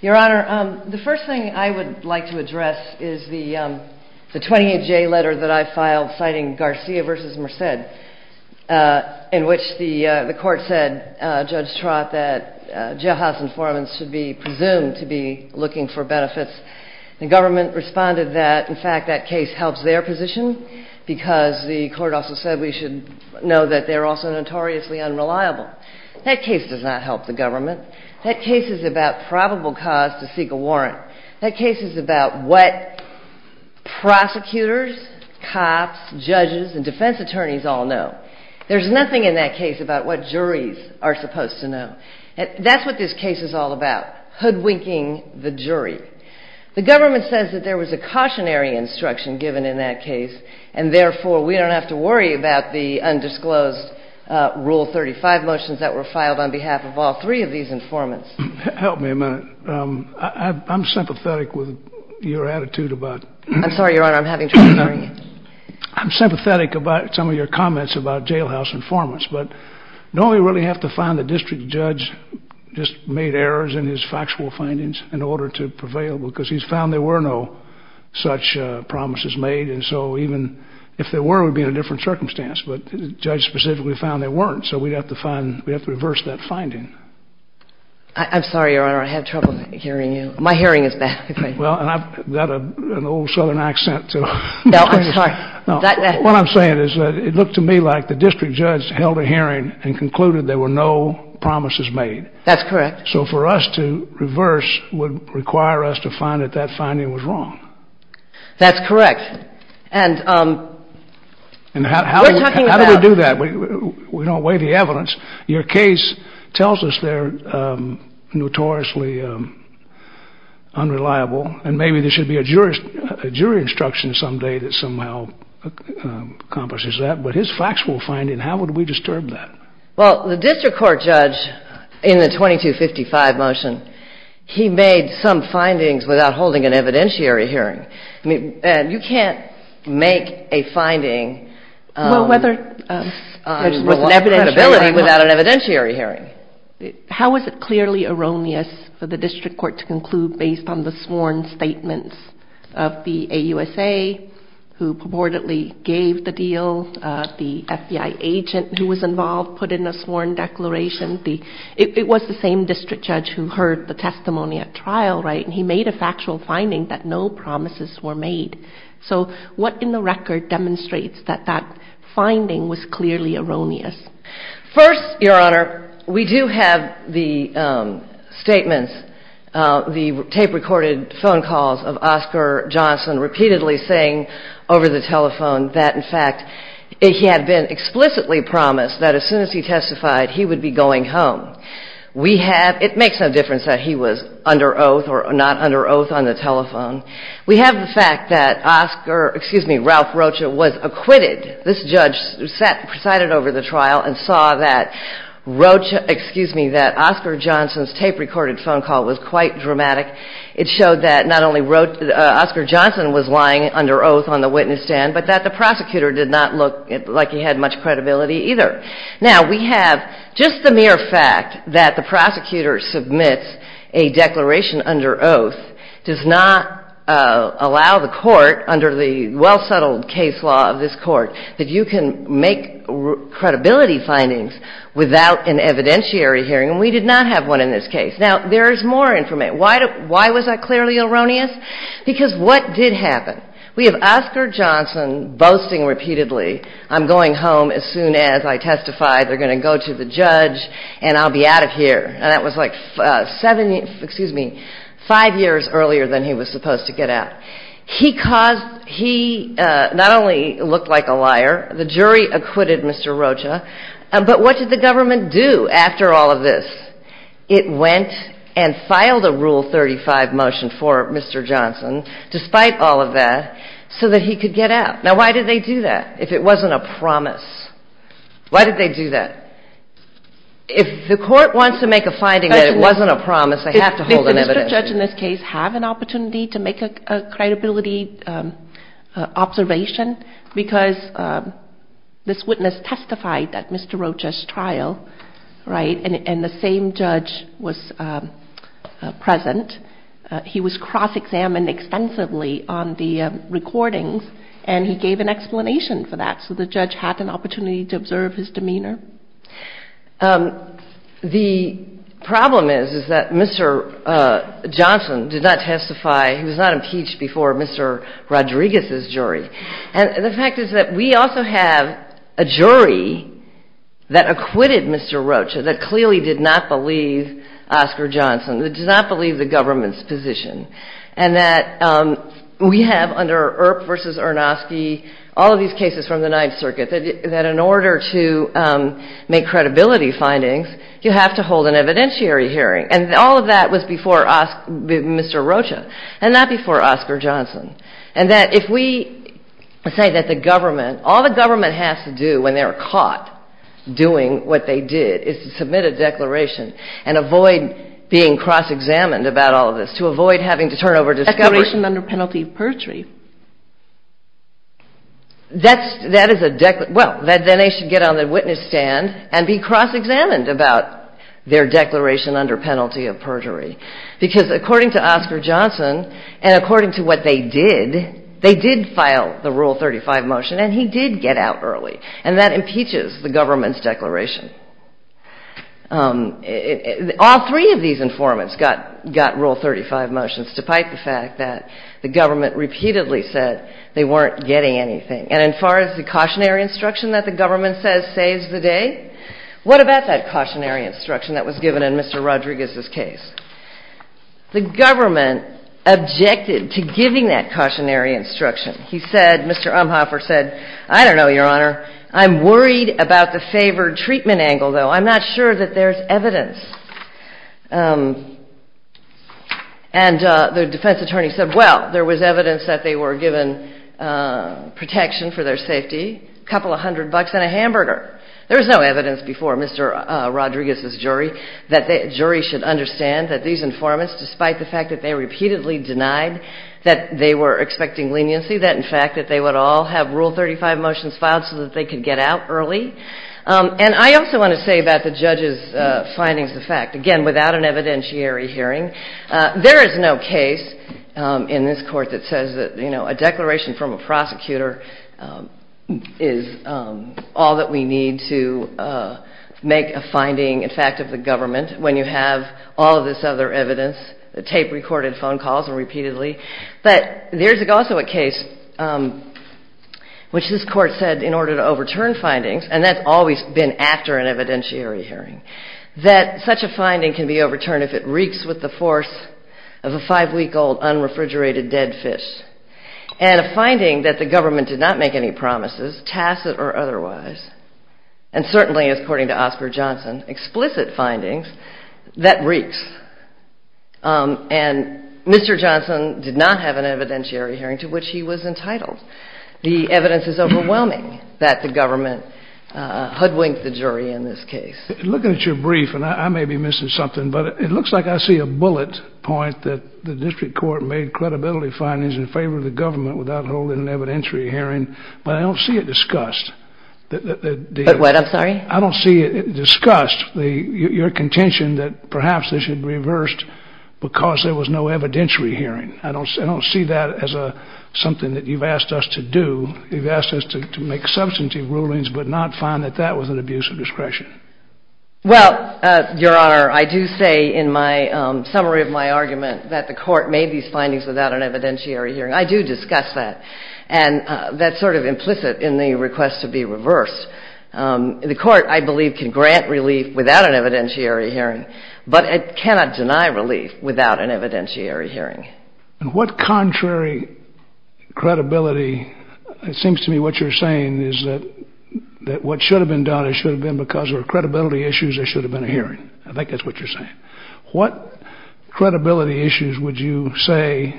Your Honor, the first thing I would like to address is the 28-J letter that I filed citing Garcia v. Merced, in which the court said, Judge Trott, that jailhouse informants should be presumed to be looking for benefits. The government responded that, in fact, that case helps their position, because the court also said we should know that they're also notoriously unreliable. That case does not help the government. That case is about probable cause to seek a warrant. That case is about what prosecutors, cops, judges, and defense attorneys all know. There's nothing in that case about what juries are supposed to know. That's what this case is all about, hoodwinking the jury. The government says that there was a cautionary instruction given in that case, and therefore, we don't have to worry about the undisclosed Rule 35 motions that were filed on behalf of all three of these informants. Justice Breyer Help me a minute. I'm sympathetic with your attitude about — Justice O'Connor I'm sorry, Your Honor. I'm having trouble hearing you. Justice Breyer I'm sympathetic about some of your comments about jailhouse informants, but don't we really have to find the district judge just made errors in his factual findings in order to prevail? Because he's found there were no such promises made, and so even if there were, it would be in a different circumstance. But the judge specifically found there weren't, so we'd have to find — we'd have to reverse that finding. Justice O'Connor I'm sorry, Your Honor. I'm having trouble hearing you. My hearing is bad. Justice Breyer Well, and I've got an old Southern accent, too. Justice O'Connor No, I'm sorry. Justice Breyer What I'm saying is that it looked to me like the district judge held a hearing and concluded there were no promises made. Justice O'Connor That's correct. Justice Breyer So for us to reverse would require us to find that the finding was wrong. Justice O'Connor That's correct. And we're talking about — Justice Breyer How do we do that? We don't weigh the evidence. Your case tells us they're notoriously unreliable, and maybe there should be a jury instruction someday that somehow accomplishes that. But his factual finding, how would we disturb that? Justice O'Connor Well, the district court judge in the 2255 motion, he made some findings without holding an evidentiary hearing. You can't make a finding with an evident ability without an evidentiary hearing. Justice O'Connor How is it clearly erroneous for the district court to conclude based on the sworn statements of the AUSA, who purportedly gave the deal, the FBI agent who was involved put in a sworn declaration? It was the same district judge who heard the testimony at trial, right? And he made a factual finding that no promises were made. So what in the record demonstrates that that finding was clearly erroneous? Justice Breyer First, Your Honor, we do have the statements, the tape-recorded phone calls of Oscar Johnson repeatedly saying over the telephone that, in fact, he had been explicitly promised that as soon as he testified, he would be going home. It makes no difference that he was under oath or not under oath on the telephone. We have the fact that Oscar, excuse me, Ralph Rocha was acquitted. This judge presided over the trial and saw that Oscar Johnson's tape-recorded phone call was quite dramatic. It showed that not only wrote that Oscar Johnson was lying under oath on the witness stand, but that the prosecutor did not look like he had much credibility either. Now, we have just the mere fact that the prosecutor submits a declaration under oath does not allow the Court, under the well-settled case law of this Court, that you can make credibility findings without an evidentiary hearing. And we did not have one in this case. Now, there is more information. Why was that clearly erroneous? Because what did happen? We have Oscar Johnson boasting repeatedly, I'm going home as soon as I testify. They're going to go to the judge, and I'll be out of here. And that was like five years earlier than he was supposed to get out. He not only looked like a liar, the jury acquitted Mr. Johnson, and he was acquitted. And what did the court do? They did all of this. It went and filed a Rule 35 motion for Mr. Johnson, despite all of that, so that he could get out. Now, why did they do that if it wasn't a promise? Why did they do that? If the Court wants to make a finding that it wasn't a promise, they have to hold an evidentiary. Did the judge in this case have an opportunity to make a credibility observation? Because this witness testified at Mr. Rocha's trial, right, and the same judge was present. He was cross-examined extensively on the recordings, and he gave an explanation for that. So the judge had an opportunity to observe his demeanor. The problem is, is that Mr. Johnson did not testify. He was not impeached before Mr. Rodriguez's jury. And the fact is that we also have a jury that acquitted Mr. Rocha that clearly did not believe Oscar Johnson, that did not believe the government's position, and that we have under Earp v. Arnosky, all of these cases from the Ninth Circuit, that in order to make credibility findings, you have to hold an evidentiary hearing. And all of that was before Mr. Rocha, and not before Oscar Johnson. And that if we say that the government – all the government has to do when they're caught doing what they did is to submit a declaration and avoid being cross-examined about all of this, to avoid having to turn over discovery. That's – that is a – well, then they should get on the witness stand and be cross-examined about their declaration under penalty of perjury. Because according to Oscar Johnson, and according to what they did, they did file the Rule 35 motion, and he did get out early. And that impeaches the government's declaration. All three of these informants got – got Rule 35 motions, despite the fact that the government repeatedly said they weren't getting anything. And as far as the cautionary instruction that the government says saves the day, what about that cautionary instruction that was given in Mr. Rodriguez's case? The government objected to giving that cautionary instruction. He said – Mr. Umphoffer said, I don't know, Your Honor, I'm worried about the favored treatment angle, though. I'm not sure that there's evidence. And the defense attorney said, well, there was evidence that they were given protection for their safety, a couple of hundred bucks and a hamburger. There was no evidence before Mr. Rodriguez's jury that the jury should understand that these informants, despite the fact that they repeatedly denied that they were expecting leniency, that in fact that they would all have Rule 35 motions filed so that they could get out early. And I also want to say about the judge's findings of fact, again, without an evidentiary hearing, there is no case in this Court that says that, you know, a declaration from a prosecutor is all that we need to make a finding, in fact, of the government when you have all of this other evidence, the tape-recorded phone calls repeatedly. But there's also a case which this Court said in order to overturn findings, and that's always been after an evidentiary hearing, that such a finding can be overturned if it reeks with the force of a five-week-old unrefrigerated dead fish. And a finding that the government did not make any promises, tacit or otherwise, and certainly, according to Oscar Johnson, explicit findings, that reeks. And Mr. Johnson did not have an evidentiary hearing to which he was entitled. The evidence is overwhelming that the government hoodwinked the jury in this case. Looking at your brief, and I may be missing something, but it looks like I see a bullet point that the district court made credibility findings in favor of the government without holding an evidentiary hearing, but I don't see it discussed. What? I'm sorry? I don't see it discussed, your contention that perhaps this should be reversed because there was no evidentiary hearing. I don't see that as something that you've asked us to do. You've asked us to make substantive rulings but not find that that was an abuse of discretion. Well, Your Honor, I do say in my summary of my argument that the Court made these findings without an evidentiary hearing. I do discuss that. And that's sort of implicit in the request to be reversed. The Court, I believe, can grant relief without an evidentiary hearing, but it cannot deny relief without an evidentiary hearing. And what contrary credibility, it seems to me what you're saying is that what should have been done, it should have been because there were credibility issues, there should have been a hearing. I think that's what you're saying. What credibility issues would you say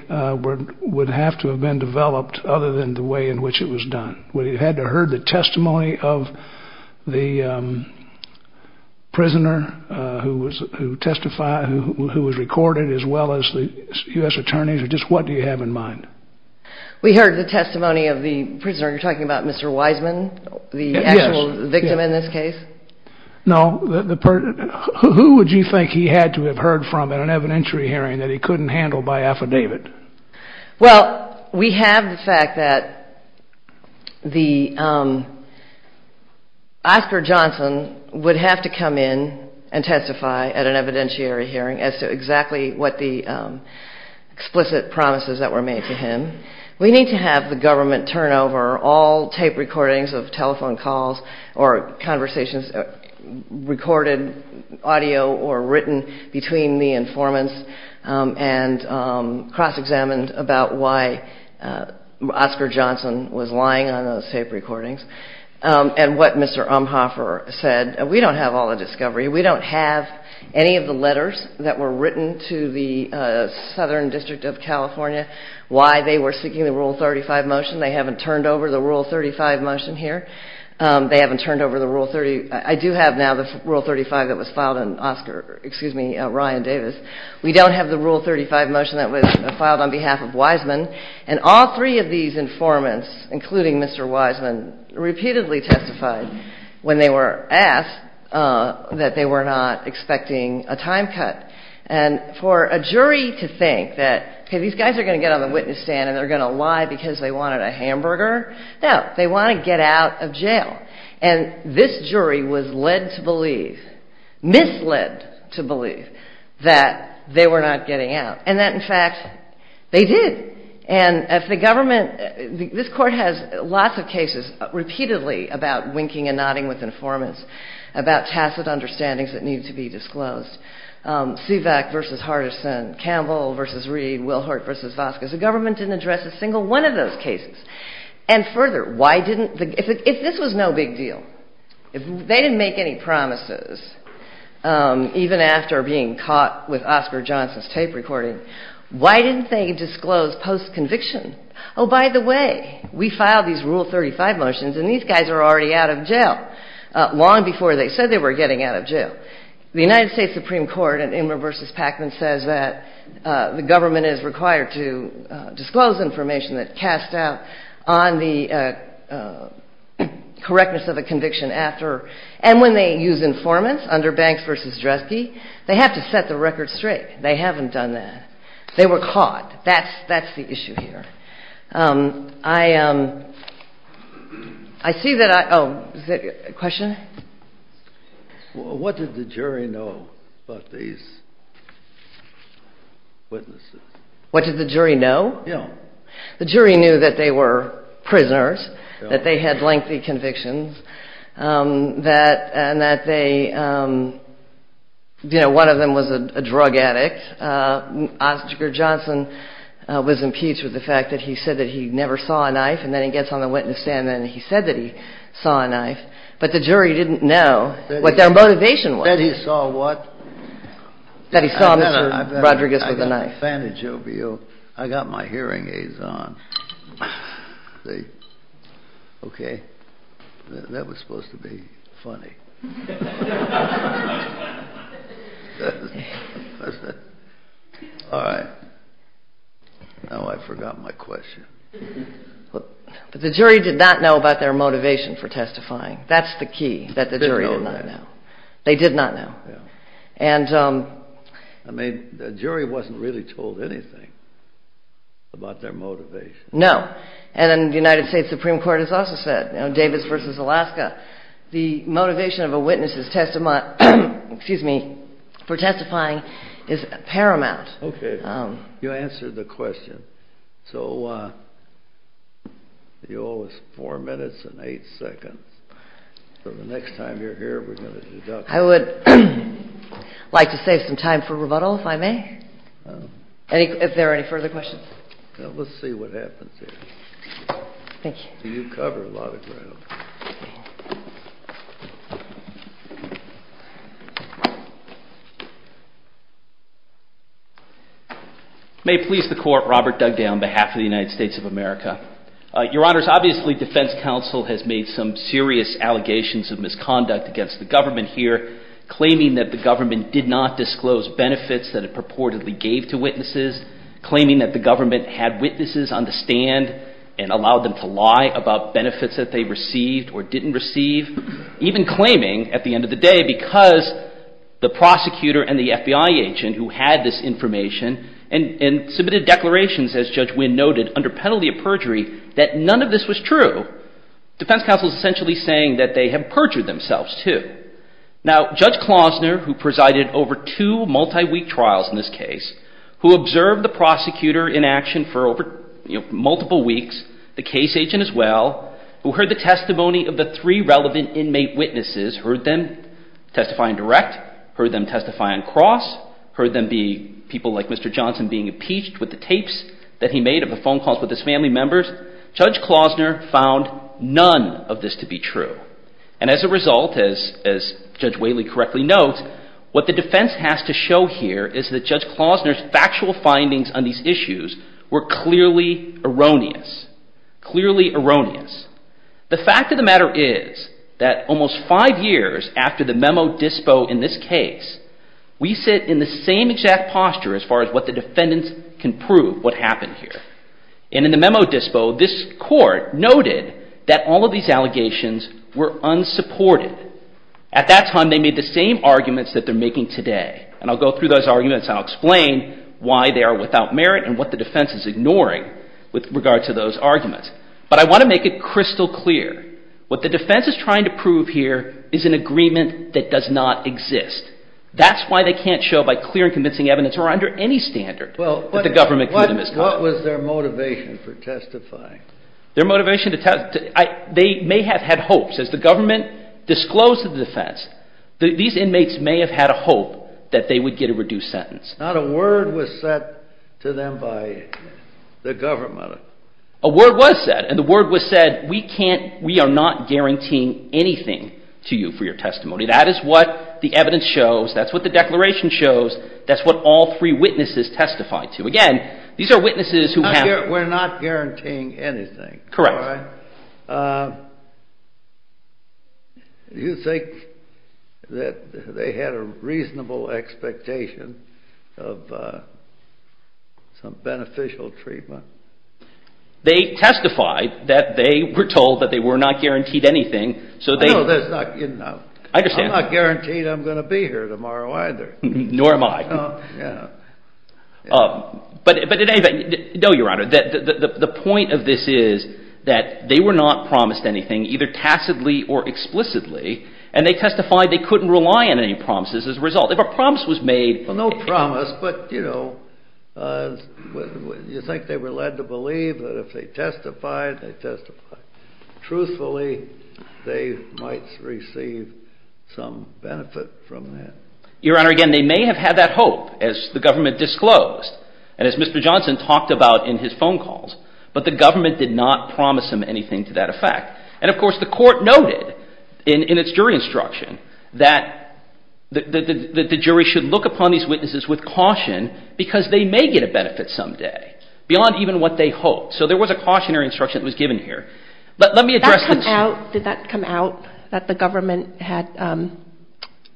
would have to have been developed other than the testimony of the prisoner who testified, who was recorded, as well as the U.S. attorneys? Just what do you have in mind? We heard the testimony of the prisoner. You're talking about Mr. Wiseman? Yes. The actual victim in this case? No. Who would you think he had to have heard from at an evidentiary hearing that he couldn't handle by affidavit? Well, we have the fact that Oscar Johnson would have to come in and testify at an evidentiary hearing as to exactly what the explicit promises that were made to him. We need to have the government turn over all tape recordings of telephone calls or conversations, recorded audio or written between the informants and cross-examined about why Oscar Johnson was lying on those tape recordings and what Mr. Umhofer said. We don't have all the discovery. We don't have any of the letters that were written to the Southern District of California why they were seeking the Rule 35 motion. They haven't turned over the Rule 35 motion here. They haven't turned over the Rule 30. I do have now the Rule 35 that was filed on Oscar, excuse me, Ryan Davis. We don't have the Rule 35 motion that was filed on behalf of Wiseman. And all three of these informants, including Mr. Wiseman, repeatedly testified when they were asked that they were not expecting a time cut. And for a jury to think that, okay, these guys are going to get on the witness stand and they're going to lie because they got out of jail. And this jury was led to believe, misled to believe, that they were not getting out. And that, in fact, they did. And if the government, this court has lots of cases repeatedly about winking and nodding with informants, about tacit understandings that need to be disclosed. Suvac v. Hardison, Campbell v. Reed, Wilhurt v. Vasquez. The big deal, if they didn't make any promises, even after being caught with Oscar Johnson's tape recording, why didn't they disclose post-conviction? Oh, by the way, we filed these Rule 35 motions and these guys are already out of jail, long before they said they were getting out of jail. The United States Supreme Court in Imler v. Packman says that the government is required to disclose information that casts doubt on the correctness of a conviction after. And when they use informants under Banks v. Dreske, they have to set the record straight. They haven't done that. They were caught. That's the issue here. I see that I, oh, is there a question? What did the jury know about these witnesses? What did the jury know? Yeah. The jury knew that they were prisoners, that they had lengthy convictions, that, and that they, you know, one of them was a drug addict. Oscar Johnson was impeached with the fact that he said that he never saw a knife and then he gets on the witness stand and he said that he saw a knife, but the jury didn't know what their motivation was. That he saw what? That he saw Mr. Rodriguez with a knife. I got my hearing aids on. See? Okay. That was supposed to be funny. All right. Now I forgot my question. But the jury did not know about their motivation for testifying. That's the key, that the jury did not know. They did not know. Yeah. I mean, the jury wasn't really told anything about their motivation. No. And in the United States Supreme Court has also said, you know, Davis v. Alaska, the motivation of a witness's testimony, excuse me, for testifying is paramount. Okay. You answered the question. So you owe us four minutes and eight seconds. So the next time you're here, we're going to deduct. I would like to save some time for rebuttal, if I may. If there are any further questions. Let's see what happens here. Thank you. You cover a lot of ground. May it please the Court, Robert Dugdale on behalf of the United States of America. Your Honors, obviously defense counsel has made some serious allegations of misconduct against the government here, claiming that the government did not disclose benefits that it purportedly gave to witnesses, claiming that the government had witnesses on the stand and allowed them to lie about benefits that they received or didn't receive, even claiming, at the end of the day, because the prosecutor and the FBI agent who had this information and submitted declarations, as Judge Wynn noted, under penalty of perjury, that none of this was true. Defense counsel is essentially saying that they have perjured themselves, too. Now, Judge Klausner, who presided over two multi-week trials in this case, the case agent as well, who heard the testimony of the three relevant inmate witnesses, heard them testify in direct, heard them testify in cross, heard them be people like Mr. Johnson being impeached with the tapes that he made of the phone calls with his family members, Judge Klausner found none of this to be true. And as a result, as Judge Whaley correctly notes, what the defense has to show here is that Judge Klausner's factual findings on these issues were clearly erroneous. Clearly erroneous. The fact of the matter is that almost five years after the memo dispo in this case, we sit in the same exact posture as far as what the defendants can prove what happened here. And in the memo dispo, this court noted that all of these allegations were unsupported. At that time, they made the same arguments that they're making today. And I'll go through those arguments and I'll go through what they are without merit and what the defense is ignoring with regard to those arguments. But I want to make it crystal clear. What the defense is trying to prove here is an agreement that does not exist. That's why they can't show by clear and convincing evidence or under any standard that the government committed misconduct. What was their motivation for testifying? Their motivation to testify, they may have had hopes. As the government disclosed to the defense, these inmates may have had a hope that they would get a reduced sentence. Not a word was said to them by the government. A word was said. And the word was said, we are not guaranteeing anything to you for your testimony. That is what the evidence shows. That's what the declaration shows. That's what all three witnesses testified to. Again, these are witnesses who have We're not guaranteeing anything. Correct. Do you think that they had a reasonable expectation of some beneficial treatment? They testified that they were told that they were not guaranteed anything. I'm not guaranteed I'm going to be here tomorrow either. Nor am I. No, Your Honor. The point of this is that they were not promised anything either tacitly or explicitly, and they testified they couldn't rely on any promises as a result. If a promise was made No promise, but you think they were led to believe that if they testified, they testified truthfully, they might receive some benefit from that. Your Honor, again, they may have had that hope as the government disclosed. And as Mr. Johnson talked about in his phone calls, but the government did not promise them anything to that effect. And of course, the court noted in its jury instruction that the jury should look upon these witnesses with caution because they may get a benefit someday beyond even what they hoped. So there was a cautionary instruction that was given here. Did that come out that the government had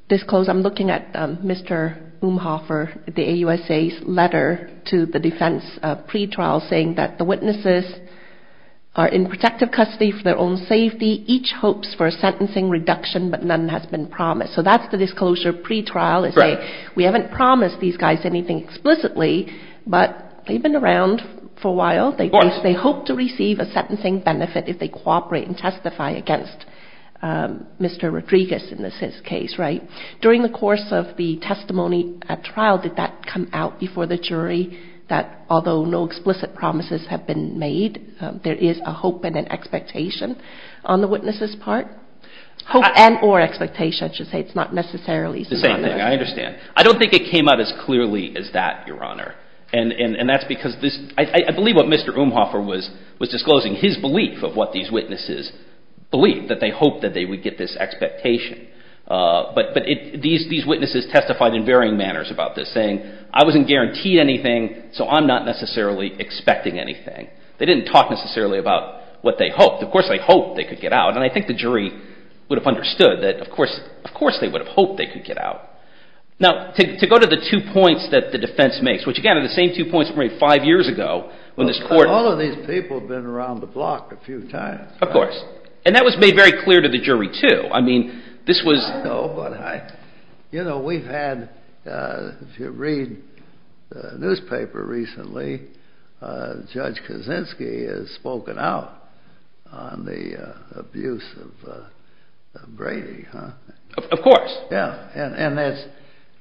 disclosed? I'm looking at Mr. Umhofer, the AUSA's letter to the defense pretrial saying that the witnesses are in protective custody for their own safety. Each hopes for a sentencing reduction, but none has been promised. So that's the disclosure pretrial. We haven't promised these guys anything explicitly, but they've been around for a while. They hope to receive a sentencing benefit if they cooperate and testify against Mr. Rodriguez in this case, right? During the course of the testimony at trial, did that come out before the jury that although no explicit promises have been made, there is a hope and an expectation on the witnesses' part? Hope and or expectation, I should say. It's not necessarily the same thing. I understand. I don't think it came out as clearly as that, Your Honor. And that's because I believe what Mr. Umhofer was disclosing, his belief of what these witnesses believed, that they hoped that they would get this expectation. But these witnesses testified in varying manners about this, saying I wasn't guaranteed anything, so I'm not necessarily expecting anything. They didn't talk necessarily about what they hoped. Of course they hoped they could get out, and I think the jury would have understood that of course they would have hoped they could get out. Now, to go to the two points that the defense makes, which again are the same two points from maybe five years ago, when this court... All of these people have been around the block a few times. Of course. And that was made very clear to the jury, too. I mean, this was... I know, but I... You know, we've had, if you read the newspaper recently, Judge Kaczynski has spoken out on the abuse of Brady, huh? Of course. Yeah, and that's...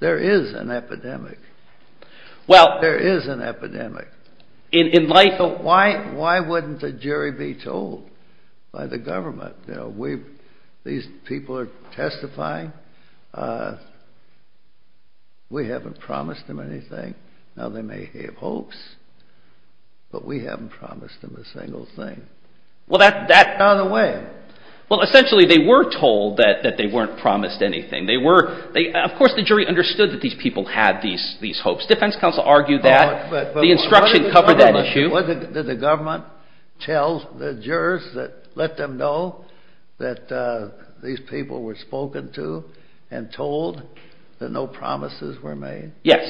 There is an epidemic. Well... There is an epidemic. In light of... Why wouldn't the jury be told by the government, you know, we've... These people are testifying. We haven't promised them anything. Now, they may have hopes, but we haven't promised them a single thing. Well, that... That's not a way. Well, essentially they were told that they weren't promised anything. They were... Of course the jury understood that these people had these hopes. Defense counsel argued that. The instruction covered that issue. But what did the government... What did the government tell the jurors that let them know that these people were spoken to and told that no promises were made? Yes.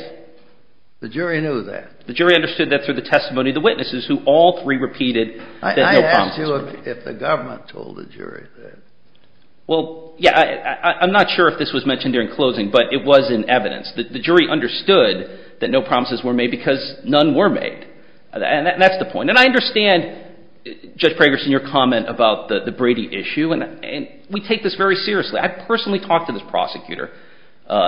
The jury knew that. The jury understood that through the testimony of the witnesses who all three repeated that no promises were made. I asked you if the government told the jury that. Well, yeah, I'm not sure if this was mentioned during closing, but it was in evidence. The jury understood that no promises were made because none were made. And that's the issue. And we take this very seriously. I personally talked to this prosecutor,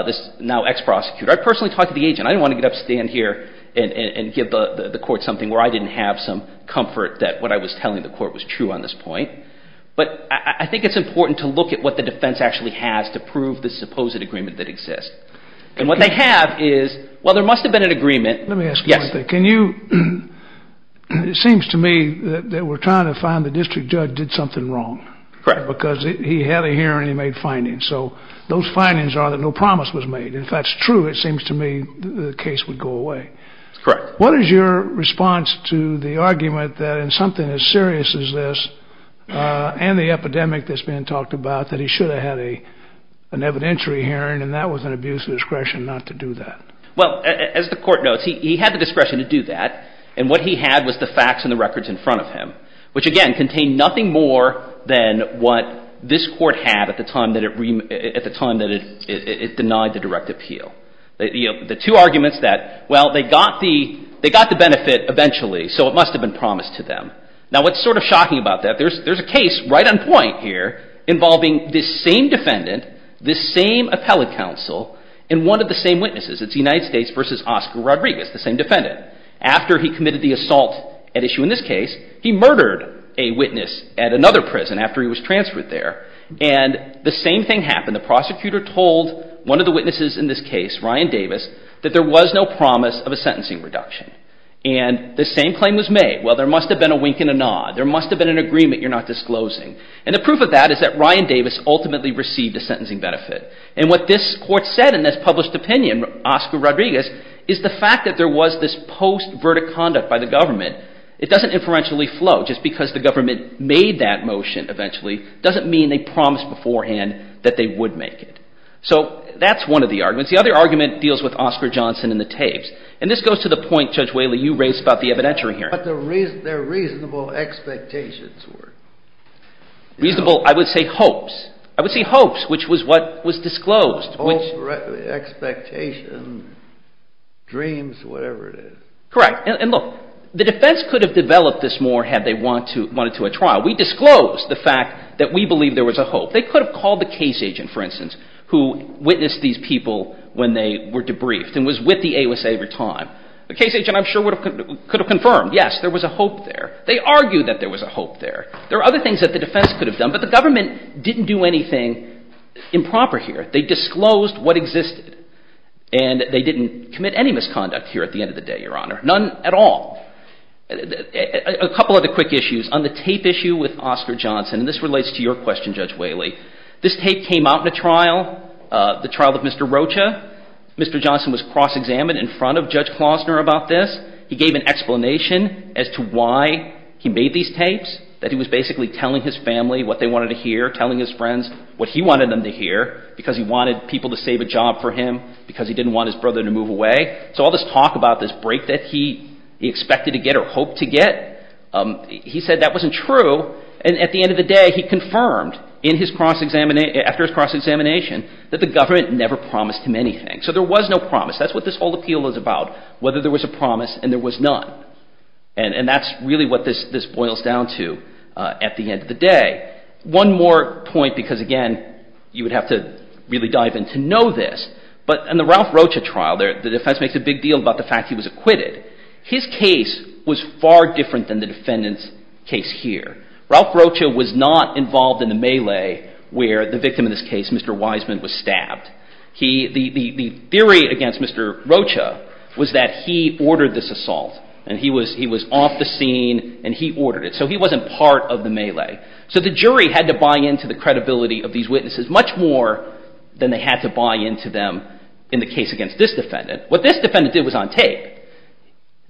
this now ex-prosecutor. I personally talked to the agent. I didn't want to get up, stand here, and give the court something where I didn't have some comfort that what I was telling the court was true on this point. But I think it's important to look at what the defense actually has to prove the supposed agreement that exists. And what they have is... Well, there must have been an agreement. Let me ask you one thing. Can you... It seems to me that we're trying to find the district judge did something wrong. Correct. Because he had a hearing. He made findings. So those findings are that no promise was made. If that's true, it seems to me the case would go away. Correct. What is your response to the argument that in something as serious as this and the epidemic that's been talked about, that he should have had an evidentiary hearing and that was an abuse of discretion not to do that? Well, as the court knows, he had the discretion to do that. And what he had was the facts and the records in front of him, which, again, contained nothing more than what this court had at the time that it denied the direct appeal. The two arguments that, well, they got the benefit eventually, so it must have been promised to them. Now, what's sort of shocking about that, there's a case right on point here involving this same defendant, this same appellate counsel, and one of the same witnesses. It's United in this case, he murdered a witness at another prison after he was transferred there. And the same thing happened. The prosecutor told one of the witnesses in this case, Ryan Davis, that there was no promise of a sentencing reduction. And the same claim was made. Well, there must have been a wink and a nod. There must have been an agreement you're not disclosing. And the proof of that is that Ryan Davis ultimately received a sentencing benefit. And what this court said in this published opinion, Oscar Rodriguez, is the fact that there was this post-verdict conduct by the government, it doesn't inferentially flow. Just because the government made that motion eventually doesn't mean they promised beforehand that they would make it. So that's one of the arguments. The other argument deals with Oscar Johnson and the tapes. And this goes to the point, Judge Whaley, you raised about the evidentiary hearing. But their reasonable expectations were. Reasonable, I would say hopes. I would say hopes, which was what was disclosed. Hopes, expectations, dreams, whatever it is. Correct. And look, the defense could have developed this more had they wanted to a trial. We disclosed the fact that we believe there was a hope. They could have called the case agent, for instance, who witnessed these people when they were debriefed and was with the AOSA every time. The case agent, I'm sure, could have confirmed, yes, there was a hope there. They argued that there was a hope there. There are other things that the defense could have done. But the government didn't do anything improper here. They disclosed what existed. And they didn't commit any misconduct here at the end of the day, Your Honor. None at all. A couple other quick issues. On the tape issue with Oscar Johnson, and this relates to your question, Judge Whaley, this tape came out in a trial, the trial of Mr. Rocha. Mr. Johnson was cross-examined in front of Judge Klausner about this. He gave an explanation as to why he made these tapes, that he was basically telling his family what they wanted to hear, telling his friends what he wanted them to hear, because he wanted people to save a job for him, because he didn't want his brother to move away. So all this talk about this break that he expected to get or hoped to get, he said that wasn't true. And at the end of the day, he confirmed in his cross-examination, after his cross-examination, that the government never promised him anything. So there was no promise. That's what this whole appeal is about, whether there was a promise and there was none. And that's really what this boils down to at the end of the day. One more point, because, again, you would have to really dive in to know this, but in the Ralph Rocha trial, the defense makes a big deal about the fact he was acquitted. His case was far different than the defendant's case here. Ralph Rocha was not involved in the melee where the victim in this case, Mr. Wiseman, was stabbed. The theory against Mr. Rocha was that he ordered this assault and he was off the scene and he ordered it. So he wasn't part of the melee. So the jury had to buy into the credibility of these witnesses much more than they had to buy into them in the case against this defendant. What this defendant did was on tape.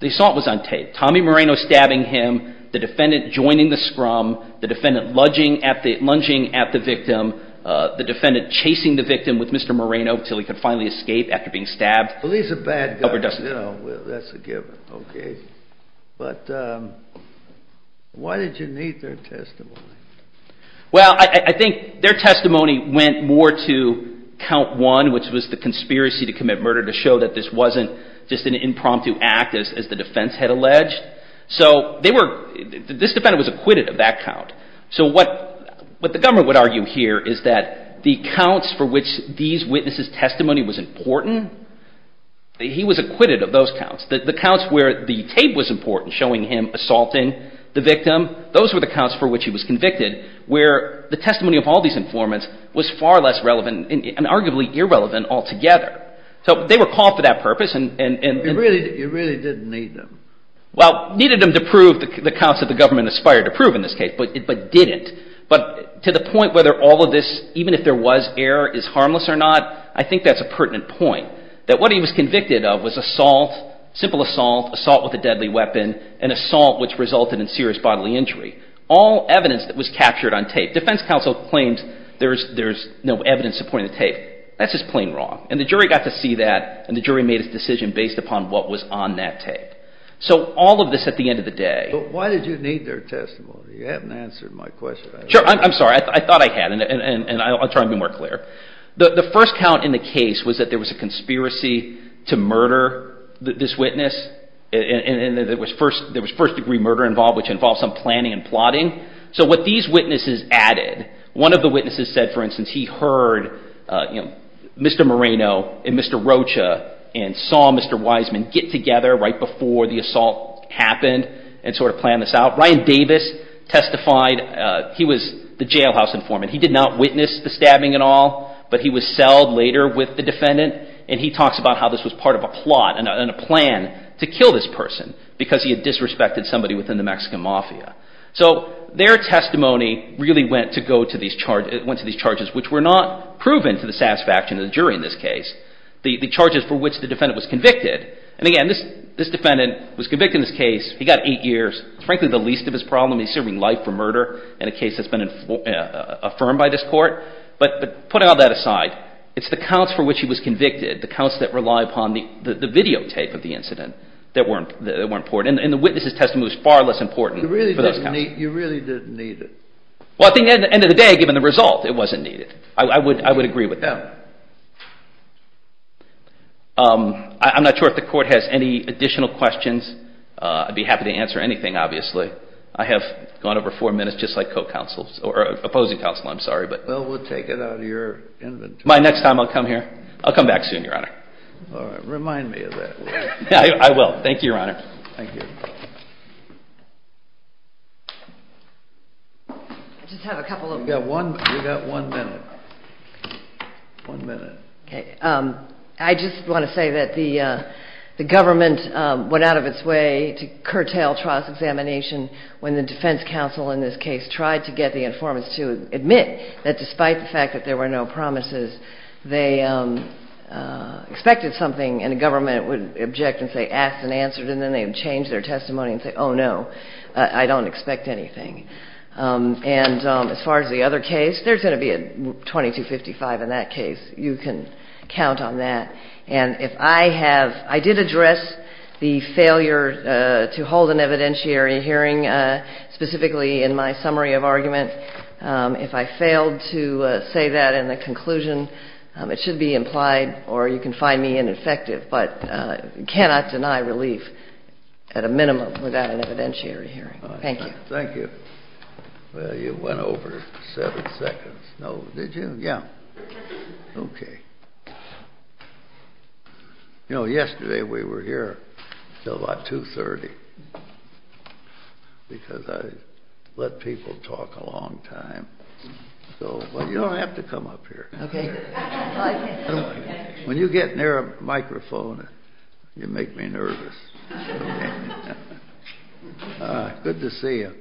The assault was on tape. Tommy Moreno stabbing him, the defendant joining the scrum, the defendant lunging at the victim, the defendant chasing the victim with Mr. Moreno until he could finally escape after being stabbed. Well, he's a bad guy. That's a given. Okay. But why did you need their testimony? Well, I think their testimony went more to count one, which was the conspiracy to commit murder to show that this wasn't just an impromptu act as the defense had alleged. So this defendant was acquitted of that count. So what the government would argue here is that the counts for which these witnesses' testimony was important, he was acquitted of those counts. The counts where the tape was important, showing him assaulting the victim, those were the counts for which he was convicted, where the testimony of all these informants was far less relevant and arguably irrelevant altogether. So they were called for that purpose. You really didn't need them. Well, needed them to prove the counts that the government aspired to prove in this even if there was error, is harmless or not. I think that's a pertinent point. That what he was convicted of was assault, simple assault, assault with a deadly weapon, and assault which resulted in serious bodily injury. All evidence that was captured on tape. Defense counsel claims there's no evidence supporting the tape. That's just plain wrong. And the jury got to see that and the jury made its decision based upon what was on that tape. So all of this at the end of the day But why did you need their testimony? You haven't answered my question. Sure, I'm sorry. I thought I had and I'll try to be more clear. The first count in the case was that there was a conspiracy to murder this witness and that there was first degree murder involved which involved some planning and plotting. So what these witnesses added one of the witnesses said, for instance, he heard Mr. Moreno and Mr. Rocha and saw Mr. Wiseman get together right before the assault happened and sort of planned this out. Ryan Davis testified. He was the jailhouse informant. He did not witness the stabbing at all, but he was selled later with the defendant and he talks about how this was part of a plot and a plan to kill this person because he had disrespected somebody within the Mexican Mafia. So their testimony really went to these charges which were not proven to the satisfaction of the jury in this case. The charges for which the defendant was convicted. And again, this defendant was convicted in this case. He got eight years, frankly the least of his problem. He's serving life for murder in a case that's been affirmed by this court. But putting all that aside, it's the counts for which he was convicted, the counts that rely upon the videotape of the incident that were important. And the witness's testimony was far less important for those counts. You really didn't need it. Well, at the end of the day, given the result, it wasn't needed. I would agree with that. I'm not sure if the Court has any additional questions. I'd be happy to answer anything, obviously. I have gone over four minutes, just like opposing counsel. Well, we'll take it out of your inventory. My next time I'll come here. I'll come back soon, Your Honor. Remind me of that. I will. Thank you, Your Honor. Thank you. I just have a couple of... You've got one minute. One minute. I just want to say that the government went out of its way to curtail trial's examination when the defense counsel in this case tried to get the informants to admit that despite the fact that there were no promises, they expected something, and the government would object and say, ask and answer, and then they would change their testimony and say, oh no, I don't expect anything. And as far as the other case, there's going to be a 2255 in that case. You can count on that. And if I have... I did address the failure to hold an evidentiary hearing specifically in my summary of argument. If I failed to say that in the conclusion, it should be implied, or you can find me ineffective, but you cannot deny relief at a minimum without an evidentiary hearing. Thank you. Thank you. Well, you went over seven seconds. Did you? Yeah. Okay. You know, yesterday we were here until about 2.30 because I let people talk a long time. Well, you don't have to come up here. Okay. When you get near a microphone, you make me nervous. Good to see you.